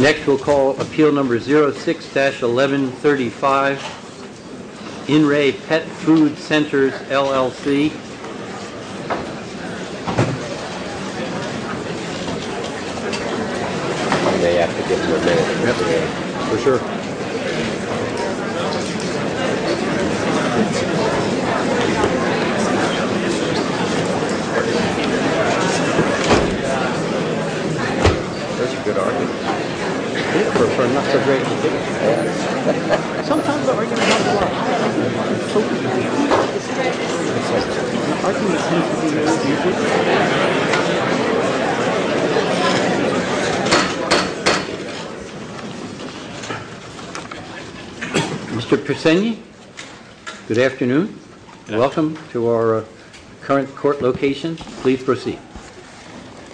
Next, we'll call Appeal Number 06-1135, In Re Pet Food Centers LLC. Mr. Persenny, good afternoon. Welcome to our current court location. Please proceed.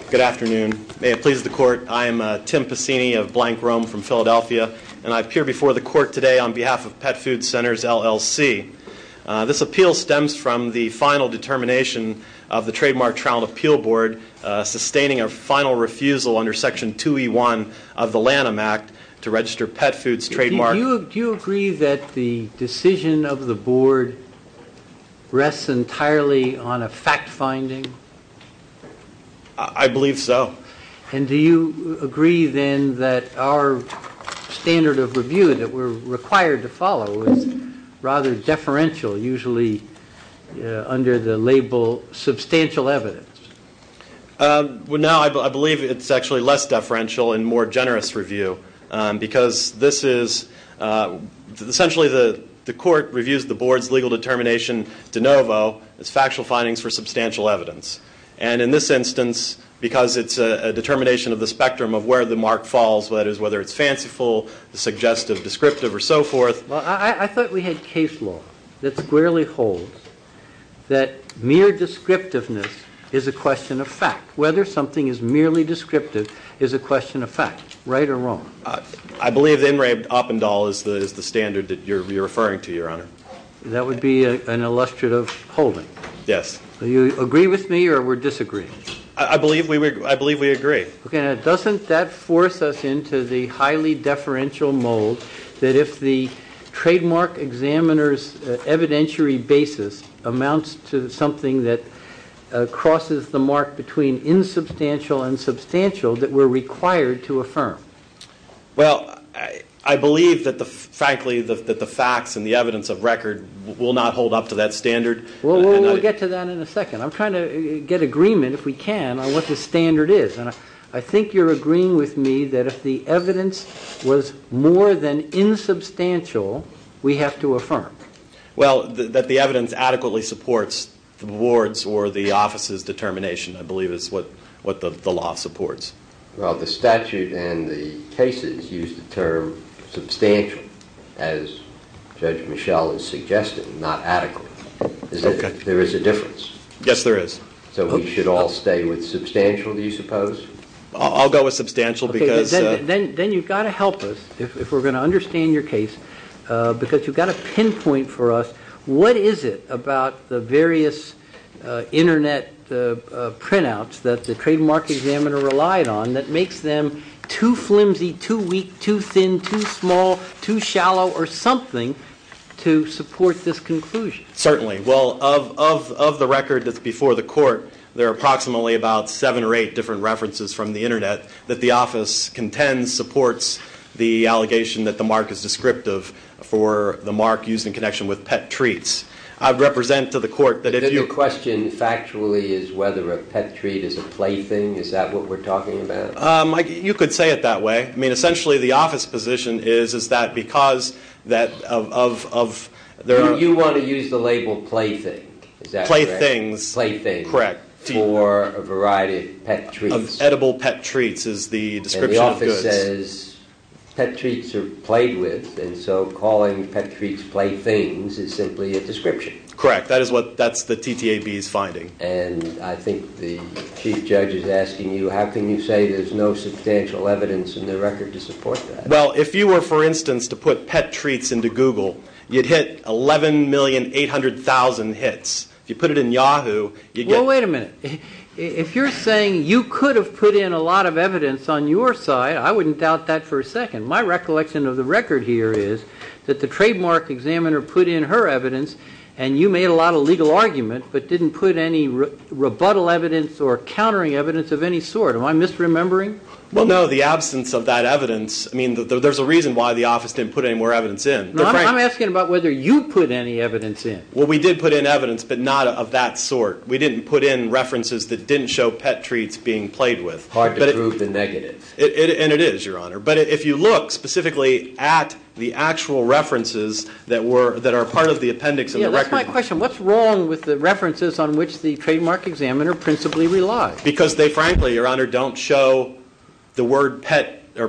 Good afternoon. May it please the court, I am Tim Persenny of Blank Rome from Philadelphia, and I appear before the court today on behalf of Pet Food Centers LLC. This appeal stems from the final determination of the Trademark Trial and Appeal Board, sustaining a final refusal under Section 2E1 of the Lanham Act to register pet foods trademarked. Do you agree that the decision of the board rests entirely on a fact finding? I believe so. And do you agree then that our standard of review that we're required to follow is rather deferential, usually under the label substantial evidence? No, I believe it's actually less deferential and more generous review, because essentially the court reviews the board's legal determination de novo as factual findings for substantial evidence. And in this instance, because it's a determination of the spectrum of where the mark falls, whether it's fanciful, suggestive, descriptive, or so forth. Well, I thought we had case law that squarely holds that mere descriptiveness is a question of fact. Whether something is merely descriptive is a question of fact, right or wrong. I believe that N. Ray Oppendahl is the standard that you're referring to, Your Honor. That would be an illustrative holding. Yes. Do you agree with me or we're disagreeing? I believe we agree. Okay. Now, doesn't that force us into the highly deferential mold that if the trademark examiner's evidentiary basis amounts to something that crosses the mark between insubstantial and substantial that we're required to affirm? Well, I believe, frankly, that the facts and the evidence of record will not hold up to that standard. We'll get to that in a second. I'm trying to get agreement, if we can, on what the standard is, and I think you're agreeing with me that if the evidence was more than insubstantial, we have to affirm. Well, that the evidence adequately supports the ward's or the office's determination, I believe, is what the law supports. Well, the statute and the cases use the term substantial, as Judge Michel has suggested, not adequate. Okay. If there is a difference. Yes, there is. So we should all stay with substantial, do you suppose? I'll go with substantial because- Then you've got to help us, if we're going to understand your case, because you've got to pinpoint for us, what is it about the various Internet printouts that the trademark examiner relied on that makes them too flimsy, too weak, too thin, too small, too shallow, or something to support this conclusion? Certainly. Well, of the record that's before the court, there are approximately about seven or eight different references from the Internet that the office contends supports the allegation that the mark is descriptive for the mark used in connection with pet treats. I'd represent to the court that if you- The question, factually, is whether a pet treat is a plaything? Is that what we're talking about? You could say it that way. I mean, essentially, the office position is that because of- So you want to use the label plaything, is that correct? Playthings. Playthings. Correct. For a variety of pet treats. Of edible pet treats is the description of goods. And the office says pet treats are played with, and so calling pet treats playthings is simply a description. Correct. That's the TTAB's finding. And I think the chief judge is asking you, how can you say there's no substantial evidence in the record to support that? Well, if you were, for instance, to put pet treats into Google, you'd hit 11,800,000 hits. If you put it in Yahoo, you'd get- Well, wait a minute. If you're saying you could have put in a lot of evidence on your side, I wouldn't doubt that for a second. My recollection of the record here is that the trademark examiner put in her evidence, and you made a lot of legal argument but didn't put any rebuttal evidence or countering evidence of any sort. Am I misremembering? Well, no. The absence of that evidence, I mean, there's a reason why the office didn't put any more evidence in. I'm asking about whether you put any evidence in. Well, we did put in evidence, but not of that sort. We didn't put in references that didn't show pet treats being played with. Hard to prove the negative. And it is, Your Honor. But if you look specifically at the actual references that are part of the appendix in the record- Yeah, that's my question. What's wrong with the references on which the trademark examiner principally relies? Because they, frankly, Your Honor, don't show the word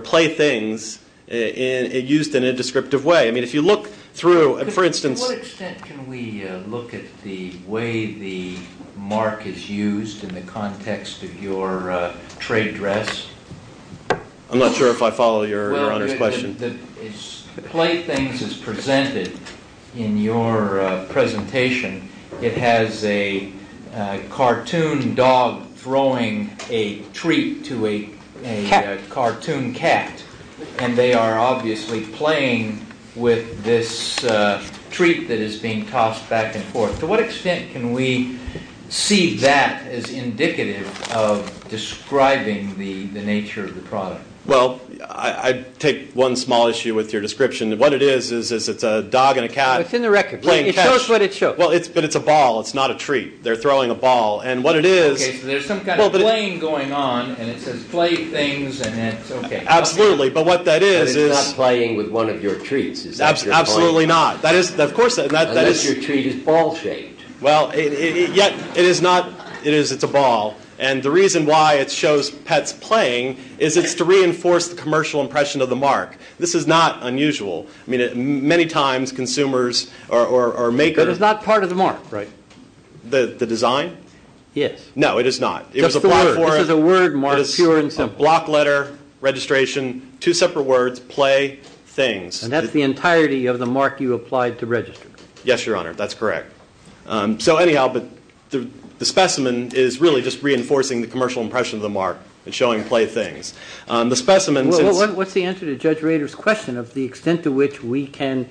playthings used in a descriptive way. I mean, if you look through, for instance- To what extent can we look at the way the mark is used in the context of your trade dress? I'm not sure if I follow Your Honor's question. Playthings is presented in your presentation. It has a cartoon dog throwing a treat to a cartoon cat. And they are obviously playing with this treat that is being tossed back and forth. To what extent can we see that as indicative of describing the nature of the product? Well, I take one small issue with your description. What it is is it's a dog and a cat- It's in the record. It shows what it shows. But it's a ball. It's not a treat. They're throwing a ball. And what it is- Okay, so there's some kind of playing going on, and it says playthings, and that's okay. Absolutely. But what that is is- But it's not playing with one of your treats, is that your point? Absolutely not. That is, of course- Unless your treat is ball-shaped. Well, yet, it is not. It is, it's a ball. And the reason why it shows pets playing is it's to reinforce the commercial impression of the mark. This is not unusual. I mean, many times, consumers or makers- But it's not part of the mark. Right. The design? Yes. No, it is not. Just the word. This is a word mark, pure and simple. It is a block letter, registration, two separate words, playthings. And that's the entirety of the mark you applied to register. Yes, Your Honor, that's correct. So anyhow, the specimen is really just reinforcing the commercial impression of the mark. It's showing playthings. The specimen- What's the answer to Judge Rader's question of the extent to which we can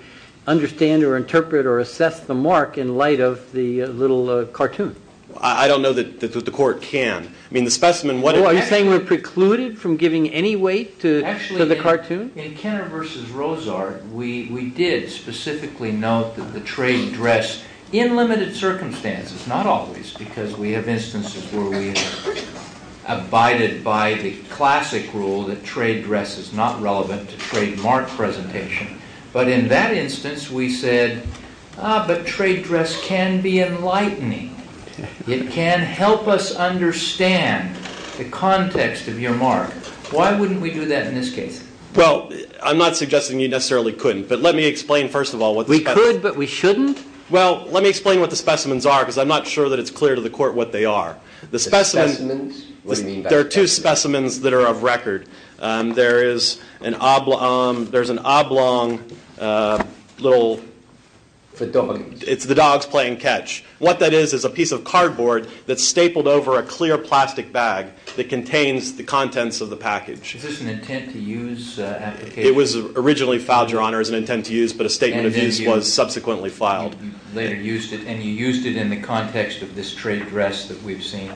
understand or interpret or assess the mark in light of the little cartoon? I don't know that the court can. I mean, the specimen- Are you saying we're precluded from giving any weight to the cartoon? In Kenner v. Rozart, we did specifically note that the trade dress, in limited circumstances, not always, because we have instances where we have abided by the classic rule that trade dress is not relevant to trademark presentation. But in that instance, we said, ah, but trade dress can be enlightening. It can help us understand the context of your mark. Why wouldn't we do that in this case? Well, I'm not suggesting you necessarily couldn't. But let me explain, first of all, what the- We could, but we shouldn't? Well, let me explain what the specimens are, because I'm not sure that it's clear to the court what they are. The specimens- The specimens? What do you mean by specimens? There are two specimens that are of record. There is an oblong little- For dogs. It's the dogs playing catch. What that is is a piece of cardboard that's stapled over a clear plastic bag that contains the contents of the package. Is this an intent-to-use application? It was originally filed, Your Honor, as an intent-to-use, but a statement of use was subsequently filed. And then you later used it, and you used it in the context of this trade dress that we've seen.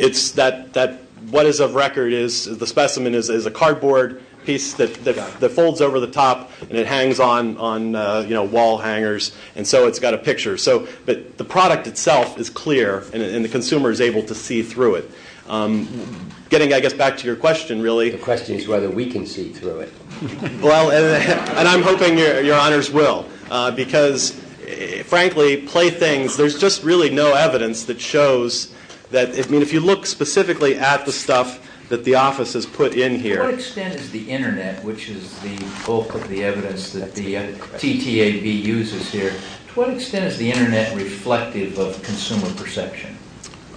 What is of record is the specimen is a cardboard piece that folds over the top, and it hangs on wall hangers, and so it's got a picture. But the product itself is clear, and the consumer is able to see through it. Getting, I guess, back to your question, really- Your question is whether we can see through it. Well, and I'm hoping Your Honors will, because, frankly, playthings, there's just really no evidence that shows that- I mean, if you look specifically at the stuff that the office has put in here- To what extent is the Internet, which is the bulk of the evidence that the TTAB uses here, to what extent is the Internet reflective of consumer perception?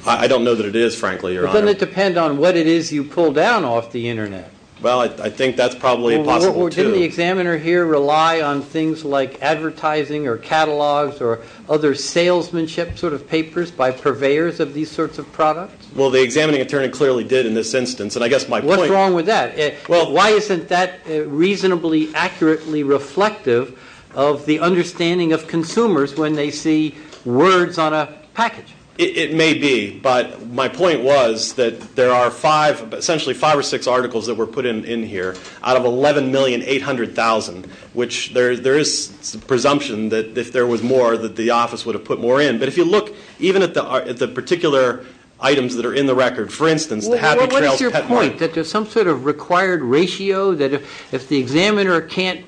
I don't know that it is, frankly, Your Honor. Well, doesn't it depend on what it is you pull down off the Internet? Well, I think that's probably possible, too. Well, didn't the examiner here rely on things like advertising or catalogs or other salesmanship sort of papers by purveyors of these sorts of products? Well, the examining attorney clearly did in this instance, and I guess my point- What's wrong with that? Well, why isn't that reasonably accurately reflective of the understanding of consumers when they see words on a package? It may be, but my point was that there are essentially five or six articles that were put in here out of 11,800,000, which there is presumption that if there was more that the office would have put more in. But if you look even at the particular items that are in the record, for instance, the Happy Trails- Well, what is your point, that there's some sort of required ratio that if the examiner can't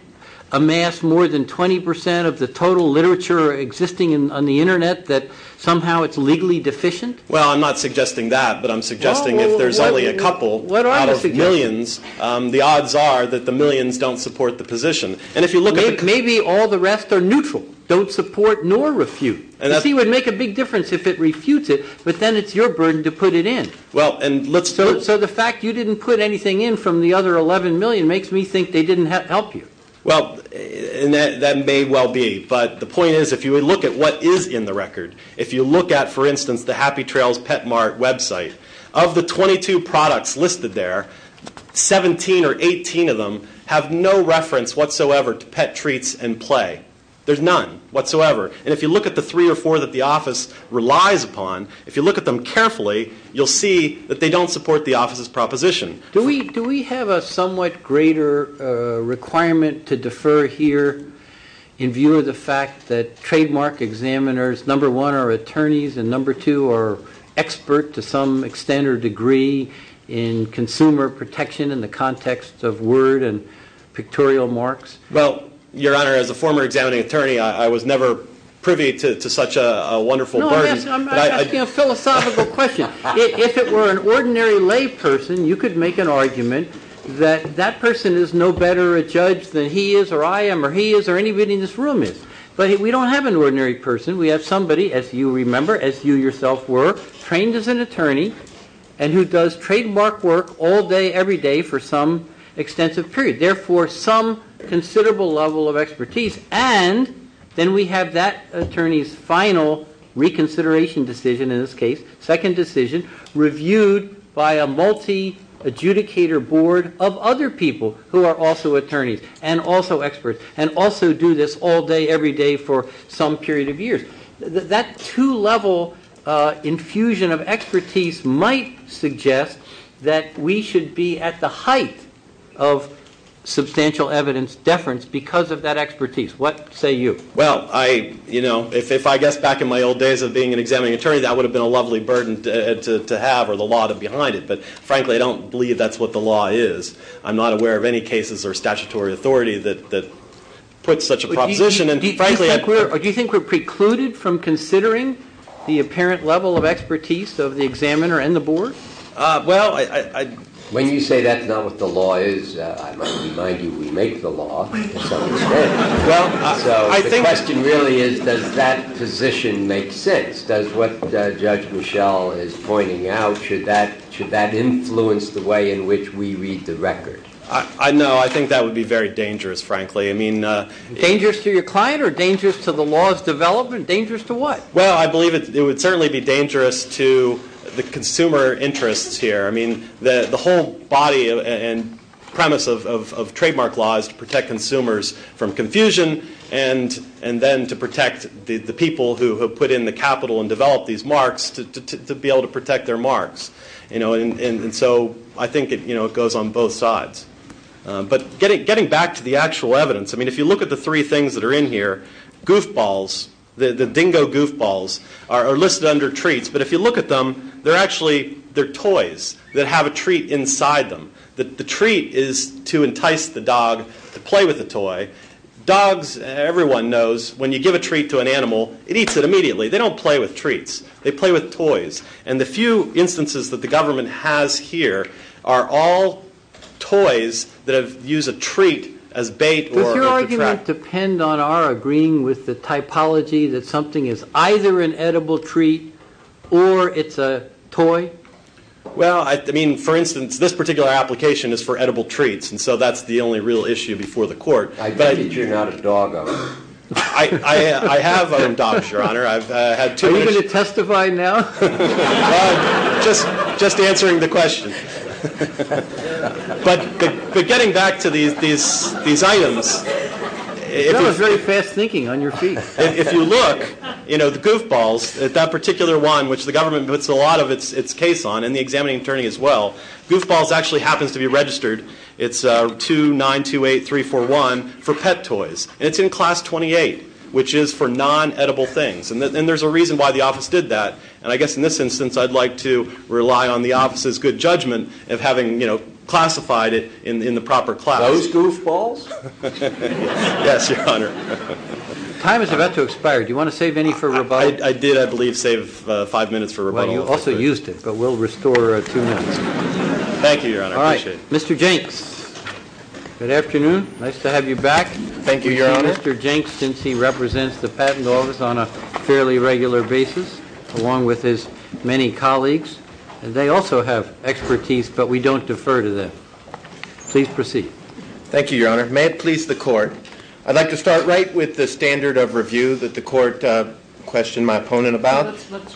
amass more than 20 percent of the total literature existing on the Internet, that somehow it's legally deficient? Well, I'm not suggesting that, but I'm suggesting if there's only a couple out of millions, the odds are that the millions don't support the position. Maybe all the rest are neutral, don't support nor refute. You see, it would make a big difference if it refutes it, but then it's your burden to put it in. So the fact you didn't put anything in from the other 11 million makes me think they didn't help you. Well, that may well be, but the point is if you look at what is in the record, if you look at, for instance, the Happy Trails Pet Mart website, of the 22 products listed there, 17 or 18 of them have no reference whatsoever to pet treats and play. There's none whatsoever. And if you look at the three or four that the office relies upon, if you look at them carefully, you'll see that they don't support the office's proposition. Do we have a somewhat greater requirement to defer here in view of the fact that trademark examiners, number one, are attorneys, and number two, are expert to some extent or degree in consumer protection in the context of word and pictorial marks? Well, Your Honor, as a former examining attorney, I was never privy to such a wonderful burden. No, I'm asking a philosophical question. If it were an ordinary layperson, you could make an argument that that person is no better a judge than he is or I am or he is or anybody in this room is. But we don't have an ordinary person. We have somebody, as you remember, as you yourself were, trained as an attorney and who does trademark work all day every day for some extensive period, therefore some considerable level of expertise. And then we have that attorney's final reconsideration decision in this case, second decision, reviewed by a multi-adjudicator board of other people who are also attorneys and also experts and also do this all day every day for some period of years. That two-level infusion of expertise might suggest that we should be at the height of substantial evidence deference because of that expertise. What say you? Well, you know, if I guess back in my old days of being an examining attorney, that would have been a lovely burden to have or the law behind it. But, frankly, I don't believe that's what the law is. I'm not aware of any cases or statutory authority that puts such a proposition. Do you think we're precluded from considering the apparent level of expertise of the examiner and the board? When you say that's not what the law is, I might remind you we make the law. So the question really is, does that position make sense? Does what Judge Michelle is pointing out, should that influence the way in which we read the record? No, I think that would be very dangerous, frankly. Dangerous to your client or dangerous to the law's development? Dangerous to what? Well, I believe it would certainly be dangerous to the consumer interests here. I mean, the whole body and premise of trademark law is to protect consumers from confusion and then to protect the people who have put in the capital and developed these marks to be able to protect their marks. And so I think it goes on both sides. But getting back to the actual evidence, I mean, if you look at the three things that are in here, goofballs, the dingo goofballs, are listed under treats. But if you look at them, they're actually toys that have a treat inside them. The treat is to entice the dog to play with the toy. Dogs, everyone knows, when you give a treat to an animal, it eats it immediately. They play with toys. And the few instances that the government has here are all toys that use a treat as bait. Does your argument depend on our agreeing with the typology that something is either an edible treat or it's a toy? Well, I mean, for instance, this particular application is for edible treats, and so that's the only real issue before the court. I get that you're not a dog owner. I have owned dogs, Your Honor. Are we going to testify now? Just answering the question. But getting back to these items. That was very fast thinking on your feet. If you look, you know, the goofballs, that particular one, which the government puts a lot of its case on, and the examining attorney as well, goofballs actually happens to be registered. It's 2928341 for pet toys. And it's in Class 28, which is for non-edible things. And there's a reason why the office did that. And I guess in this instance, I'd like to rely on the office's good judgment of having classified it in the proper class. Those goofballs? Yes, Your Honor. Time is about to expire. Do you want to save any for rebuttal? I did, I believe, save five minutes for rebuttal. Well, you also used it, but we'll restore two minutes. Thank you, Your Honor. I appreciate it. Good afternoon. Nice to have you back. Thank you, Your Honor. Mr. Jenks, since he represents the Patent Office on a fairly regular basis, along with his many colleagues, they also have expertise, but we don't defer to them. Please proceed. Thank you, Your Honor. May it please the Court. I'd like to start right with the standard of review that the Court questioned my opponent about.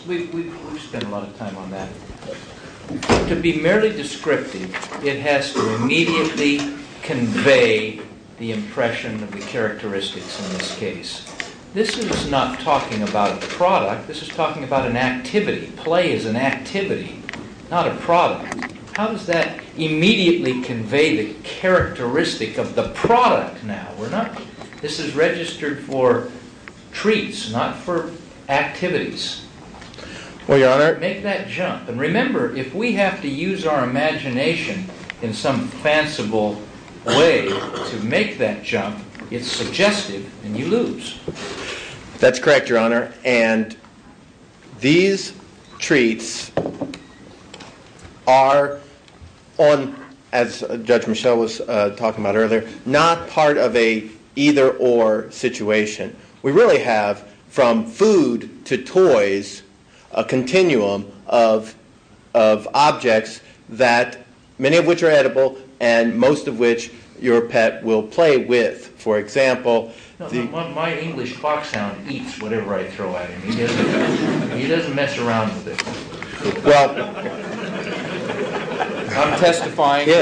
We've spent a lot of time on that. To be merely descriptive, it has to immediately convey the impression of the characteristics in this case. This is not talking about a product. This is talking about an activity. Play is an activity, not a product. How does that immediately convey the characteristic of the product now? This is registered for treats, not for activities. Well, Your Honor. Make that jump. And remember, if we have to use our imagination in some fanciful way to make that jump, it's suggestive and you lose. That's correct, Your Honor. And these treats are, as Judge Michel was talking about earlier, not part of an either-or situation. We really have, from food to toys, a continuum of objects, many of which are edible and most of which your pet will play with. For example... My English foxhound eats whatever I throw at him. He doesn't mess around with it. Well... I'm testifying. I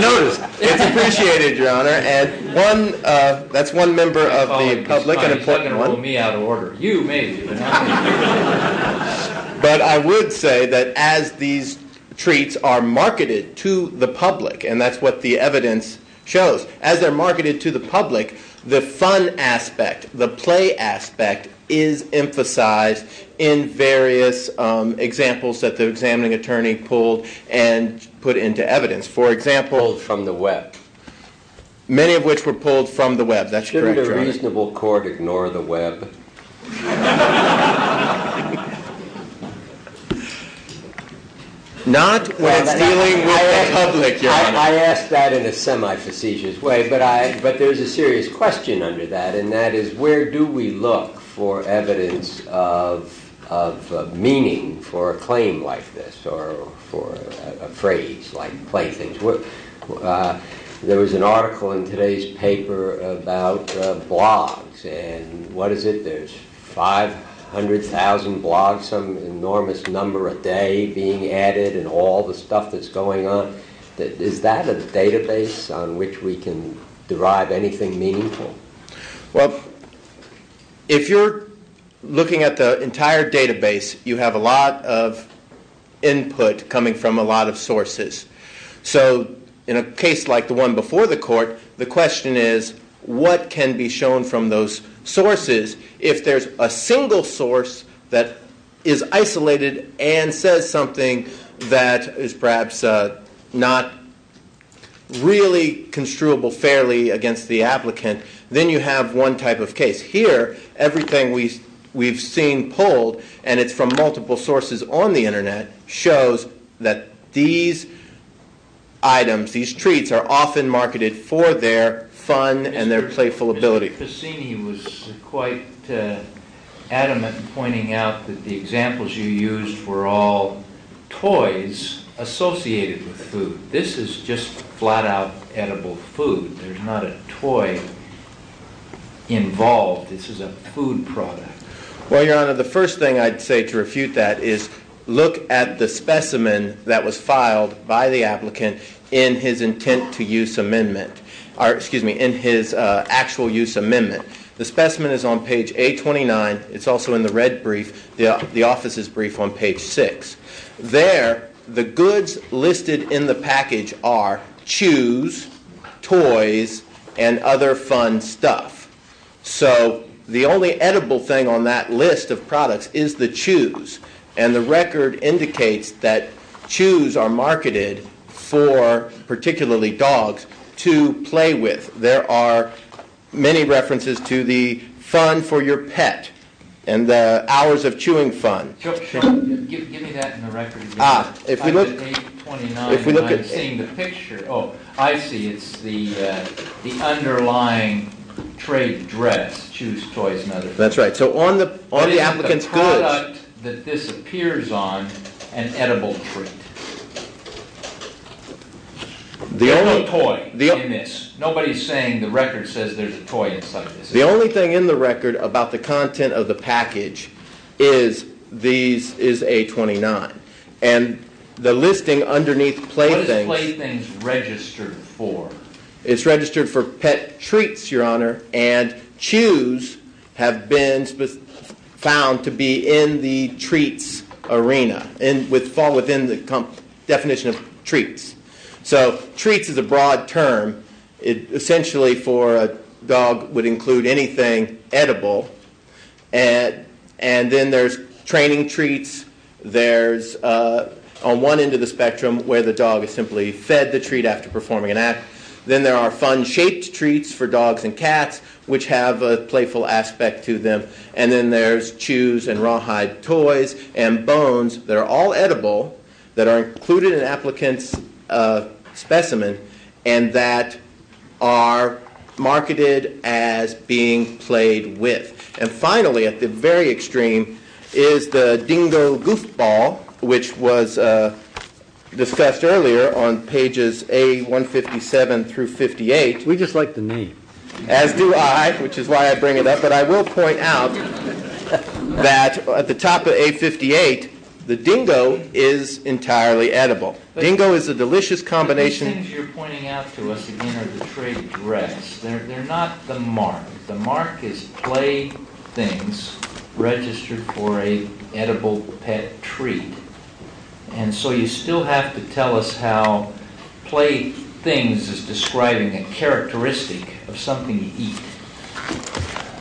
noticed. It's appreciated, Your Honor. That's one member of the public and important one. You made it. But I would say that as these treats are marketed to the public, and that's what the evidence shows, as they're marketed to the public, the fun aspect, the play aspect, is emphasized in various examples that the examining attorney pulled and put into evidence. For example... Pulled from the web. Many of which were pulled from the web. That's correct, Your Honor. Shouldn't a reasonable court ignore the web? Not when it's dealing with the public, Your Honor. I ask that in a semi-facetious way, but there's a serious question under that, and that is, where do we look for evidence of meaning for a claim like this, or for a phrase like playthings? There was an article in today's paper about blogs, and what is it? There's 500,000 blogs, some enormous number a day being added, and all the stuff that's going on. Is that a database on which we can derive anything meaningful? Well, if you're looking at the entire database, you have a lot of input coming from a lot of sources. So in a case like the one before the court, the question is, what can be shown from those sources? If there's a single source that is isolated and says something that is perhaps not really construable fairly against the applicant, then you have one type of case. Here, everything we've seen pulled, and it's from multiple sources on the internet, shows that these items, these treats, are often marketed for their fun and their playful ability. Mr. Ficini was quite adamant in pointing out that the examples you used were all toys associated with food. This is just flat-out edible food. There's not a toy involved. This is a food product. Well, Your Honor, the first thing I'd say to refute that is, look at the specimen that was filed by the applicant in his intent-to-use amendment, or excuse me, in his actual-use amendment. The specimen is on page 829. It's also in the red brief, the office's brief on page 6. There, the goods listed in the package are chews, toys, and other fun stuff. So the only edible thing on that list of products is the chews. And the record indicates that chews are marketed for, particularly dogs, to play with. There are many references to the fun for your pet and the hours of chewing fun. Give me that in the record again. If we look at 829, I'm seeing the picture. Oh, I see. It's the underlying trade address, chews, toys, and other things. That's right. So on the applicant's goods. What is the product that this appears on, an edible treat? The only toy in this. Nobody's saying the record says there's a toy inside this. The only thing in the record about the content of the package is 829. And the listing underneath playthings. What is playthings registered for? It's registered for pet treats, Your Honor. And chews have been found to be in the treats arena and fall within the definition of treats. So treats is a broad term. Essentially, for a dog, would include anything edible. And then there's training treats. There's on one end of the spectrum where the dog is simply fed the treat after performing an act. Then there are fun-shaped treats for dogs and cats, which have a playful aspect to them. And then there's chews and rawhide toys and bones that are all edible, that are included in an applicant's specimen, and that are marketed as being played with. And finally, at the very extreme, is the dingo goofball, which was discussed earlier on pages A-157 through 58. We just like the name. As do I, which is why I bring it up. But I will point out that at the top of A-58, the dingo is entirely edible. Dingo is a delicious combination. The things you're pointing out to us again are the trade dress. They're not the mark. The mark is play things registered for an edible pet treat. And so you still have to tell us how play things is describing a characteristic of something you eat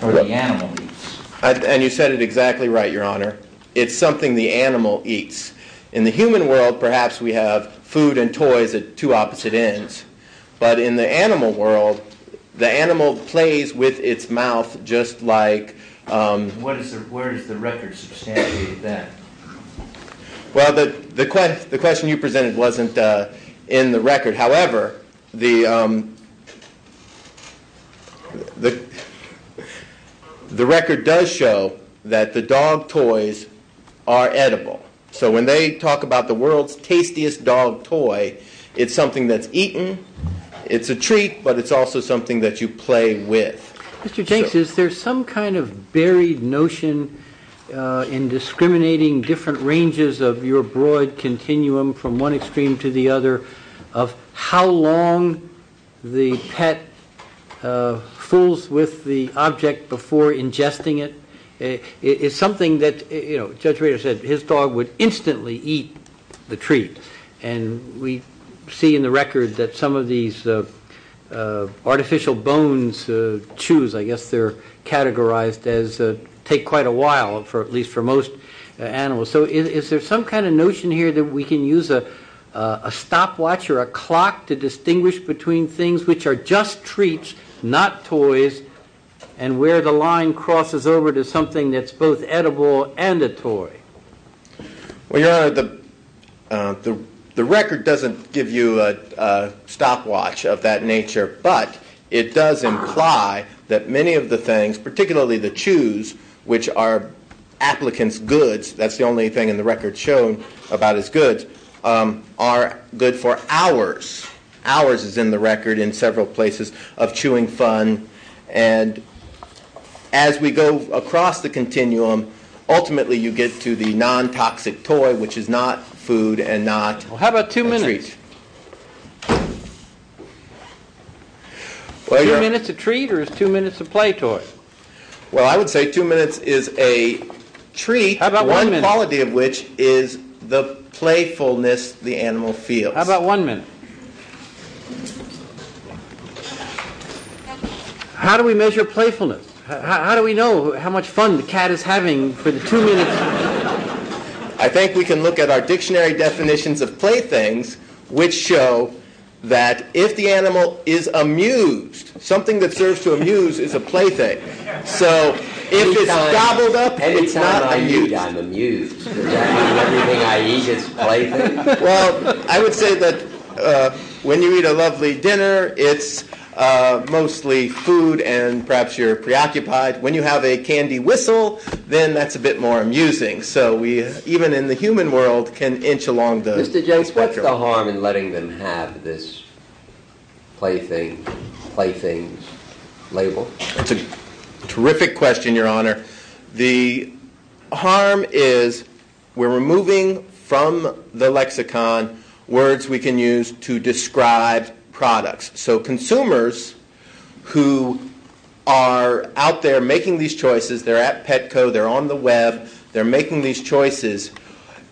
or the animal eats. And you said it exactly right, Your Honor. It's something the animal eats. In the human world, perhaps we have food and toys at two opposite ends. But in the animal world, the animal plays with its mouth just like... Where does the record substantiate that? Well, the question you presented wasn't in the record. However, the record does show that the dog toys are edible. So when they talk about the world's tastiest dog toy, it's something that's eaten, it's a treat, but it's also something that you play with. Mr. Jenks, is there some kind of buried notion in discriminating different ranges of your broad continuum from one extreme to the other of how long the pet fools with the object before ingesting it? Judge Rader said his dog would instantly eat the treat. And we see in the record that some of these artificial bones, chews, I guess they're categorized as take quite a while, at least for most animals. So is there some kind of notion here that we can use a stopwatch or a clock to distinguish between things which are just treats, not toys, and where the line crosses over to something that's both edible and a toy? Well, Your Honor, the record doesn't give you a stopwatch of that nature, but it does imply that many of the things, particularly the chews, which are applicants' goods, that's the only thing in the record shown about his goods, are good for hours. Hours is in the record in several places of chewing fun. And as we go across the continuum, ultimately you get to the non-toxic toy, which is not food and not a treat. Well, how about two minutes? Two minutes a treat, or is two minutes a play toy? Well, I would say two minutes is a treat, one quality of which is the playfulness the animal feels. How about one minute? How do we measure playfulness? How do we know how much fun the cat is having for the two minutes? I think we can look at our dictionary definitions of playthings, which show that if the animal is amused, something that serves to amuse is a plaything. So if it's gobbled up, it's not amused. Anytime I'm amused, I'm amused. Everything I eat is a plaything. Well, I would say that when you eat a lovely dinner, it's mostly food and perhaps you're preoccupied. When you have a candy whistle, then that's a bit more amusing. So we, even in the human world, can inch along the spectrum. Mr. Jenks, what's the harm in letting them have this plaything label? That's a terrific question, Your Honor. The harm is we're removing from the lexicon words we can use to describe products. So consumers who are out there making these choices, they're at Petco, they're on the web, they're making these choices.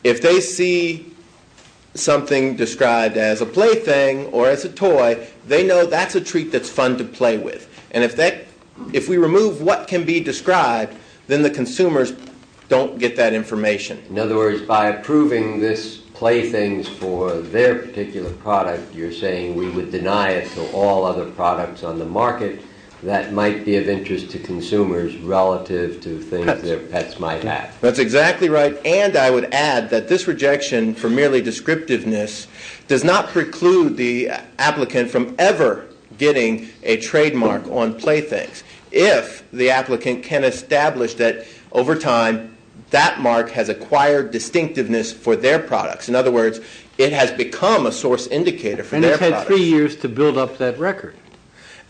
If they see something described as a plaything or as a toy, they know that's a treat that's fun to play with. And if we remove what can be described, then the consumers don't get that information. In other words, by approving this plaything for their particular product, you're saying we would deny it to all other products on the market that might be of interest to consumers relative to things their pets might have. That's exactly right. And I would add that this rejection for merely descriptiveness does not preclude the applicant from ever getting a trademark on playthings. If the applicant can establish that, over time, that mark has acquired distinctiveness for their products. In other words, it has become a source indicator for their products. And it's had three years to build up that record.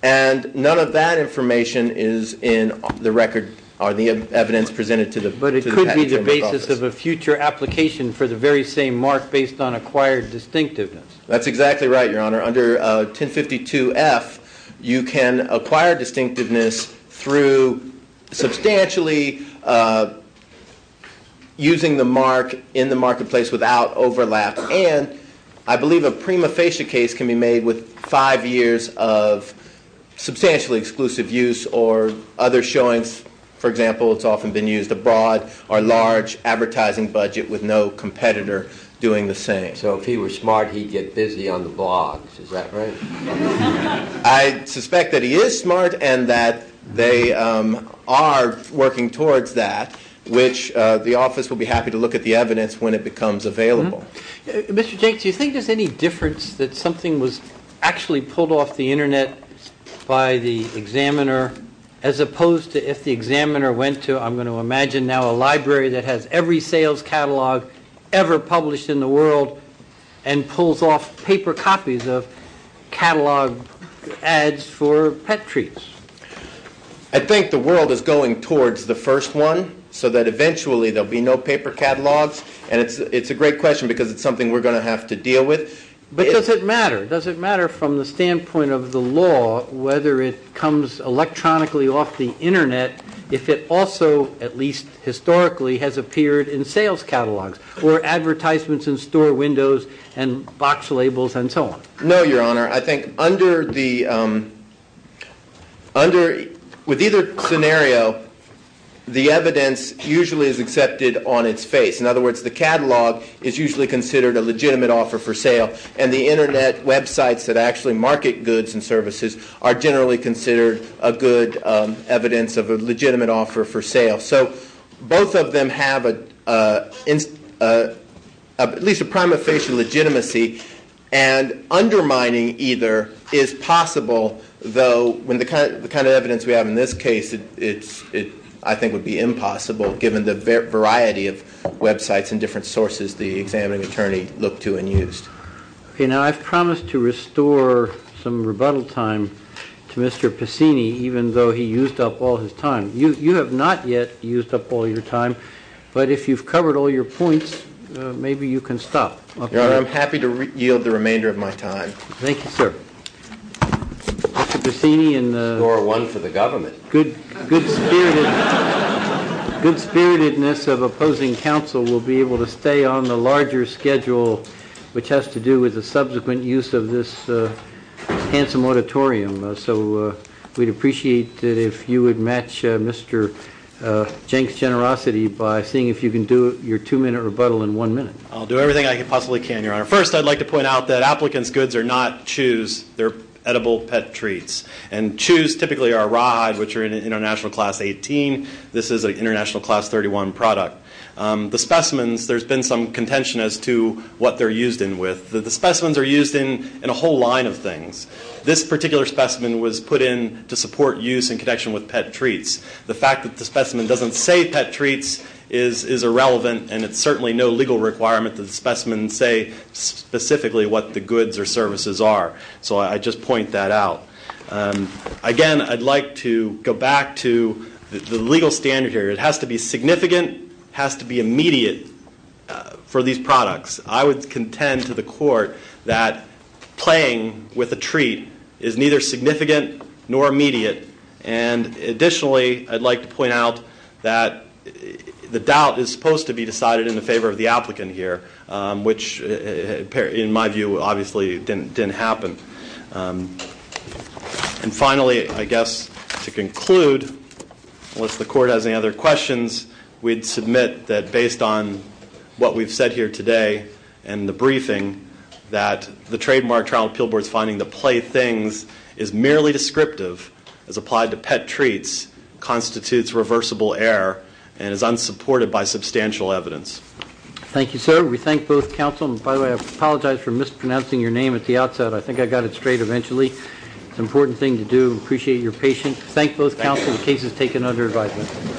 And none of that information is in the record or the evidence presented to the patent attorney's office. But it could be the basis of a future application for the very same mark based on acquired distinctiveness. That's exactly right, Your Honor. Under 1052F, you can acquire distinctiveness through substantially using the mark in the marketplace without overlap. And I believe a prima facie case can be made with five years of substantially exclusive use or other showings. For example, it's often been used abroad or large advertising budget with no competitor doing the same. So if he were smart, he'd get busy on the blogs. Is that right? I suspect that he is smart and that they are working towards that, which the office will be happy to look at the evidence when it becomes available. Mr. Jenkins, do you think there's any difference that something was actually pulled off the Internet by the examiner as opposed to if the examiner went to, I'm going to imagine now, a library that has every sales catalog ever published in the world and pulls off paper copies of catalog ads for pet treats? I think the world is going towards the first one so that eventually there will be no paper catalogs. And it's a great question because it's something we're going to have to deal with. But does it matter? Does it matter from the standpoint of the law whether it comes electronically off the Internet if it also, at least historically, has appeared in sales catalogs or advertisements in store windows and box labels and so on? No, Your Honor. I think with either scenario, the evidence usually is accepted on its face. In other words, the catalog is usually considered a legitimate offer for sale and the Internet websites that actually market goods and services are generally considered a good evidence of a legitimate offer for sale. So both of them have at least a prima facie legitimacy and undermining either is possible, though the kind of evidence we have in this case I think would be impossible given the variety of websites and different sources the examining attorney looked to and used. Okay, now I've promised to restore some rebuttal time to Mr. Passini even though he used up all his time. You have not yet used up all your time. But if you've covered all your points, maybe you can stop. Your Honor, I'm happy to yield the remainder of my time. Thank you, sir. Mr. Passini, good spiritedness of opposing counsel will be able to stay on the larger schedule which has to do with the subsequent use of this handsome auditorium. So we'd appreciate it if you would match Mr. Jenks' generosity by seeing if you can do your two-minute rebuttal in one minute. I'll do everything I possibly can, Your Honor. First, I'd like to point out that applicants' goods are not chews. They're edible pet treats. And chews typically are rawhide, which are international class 18. This is an international class 31 product. The specimens, there's been some contention as to what they're used in with. The specimens are used in a whole line of things. This particular specimen was put in to support use in connection with pet treats. The fact that the specimen doesn't say pet treats is irrelevant and it's certainly no legal requirement that the specimen say specifically what the goods or services are. So I just point that out. Again, I'd like to go back to the legal standard here. It has to be significant. It has to be immediate for these products. I would contend to the court that playing with a treat is neither significant nor immediate. And additionally, I'd like to point out that the doubt is supposed to be decided in the favor of the applicant here, which in my view obviously didn't happen. And finally, I guess to conclude, unless the court has any other questions, we'd submit that based on what we've said here today and the briefing, that the trademark trial appeal board's finding that play things is merely descriptive as applied to pet treats, constitutes reversible error, and is unsupported by substantial evidence. Thank you, sir. We thank both counsel. And by the way, I apologize for mispronouncing your name at the outset. I think I got it straight eventually. It's an important thing to do. We appreciate your patience. Thank both counsel. The case is taken under advisement.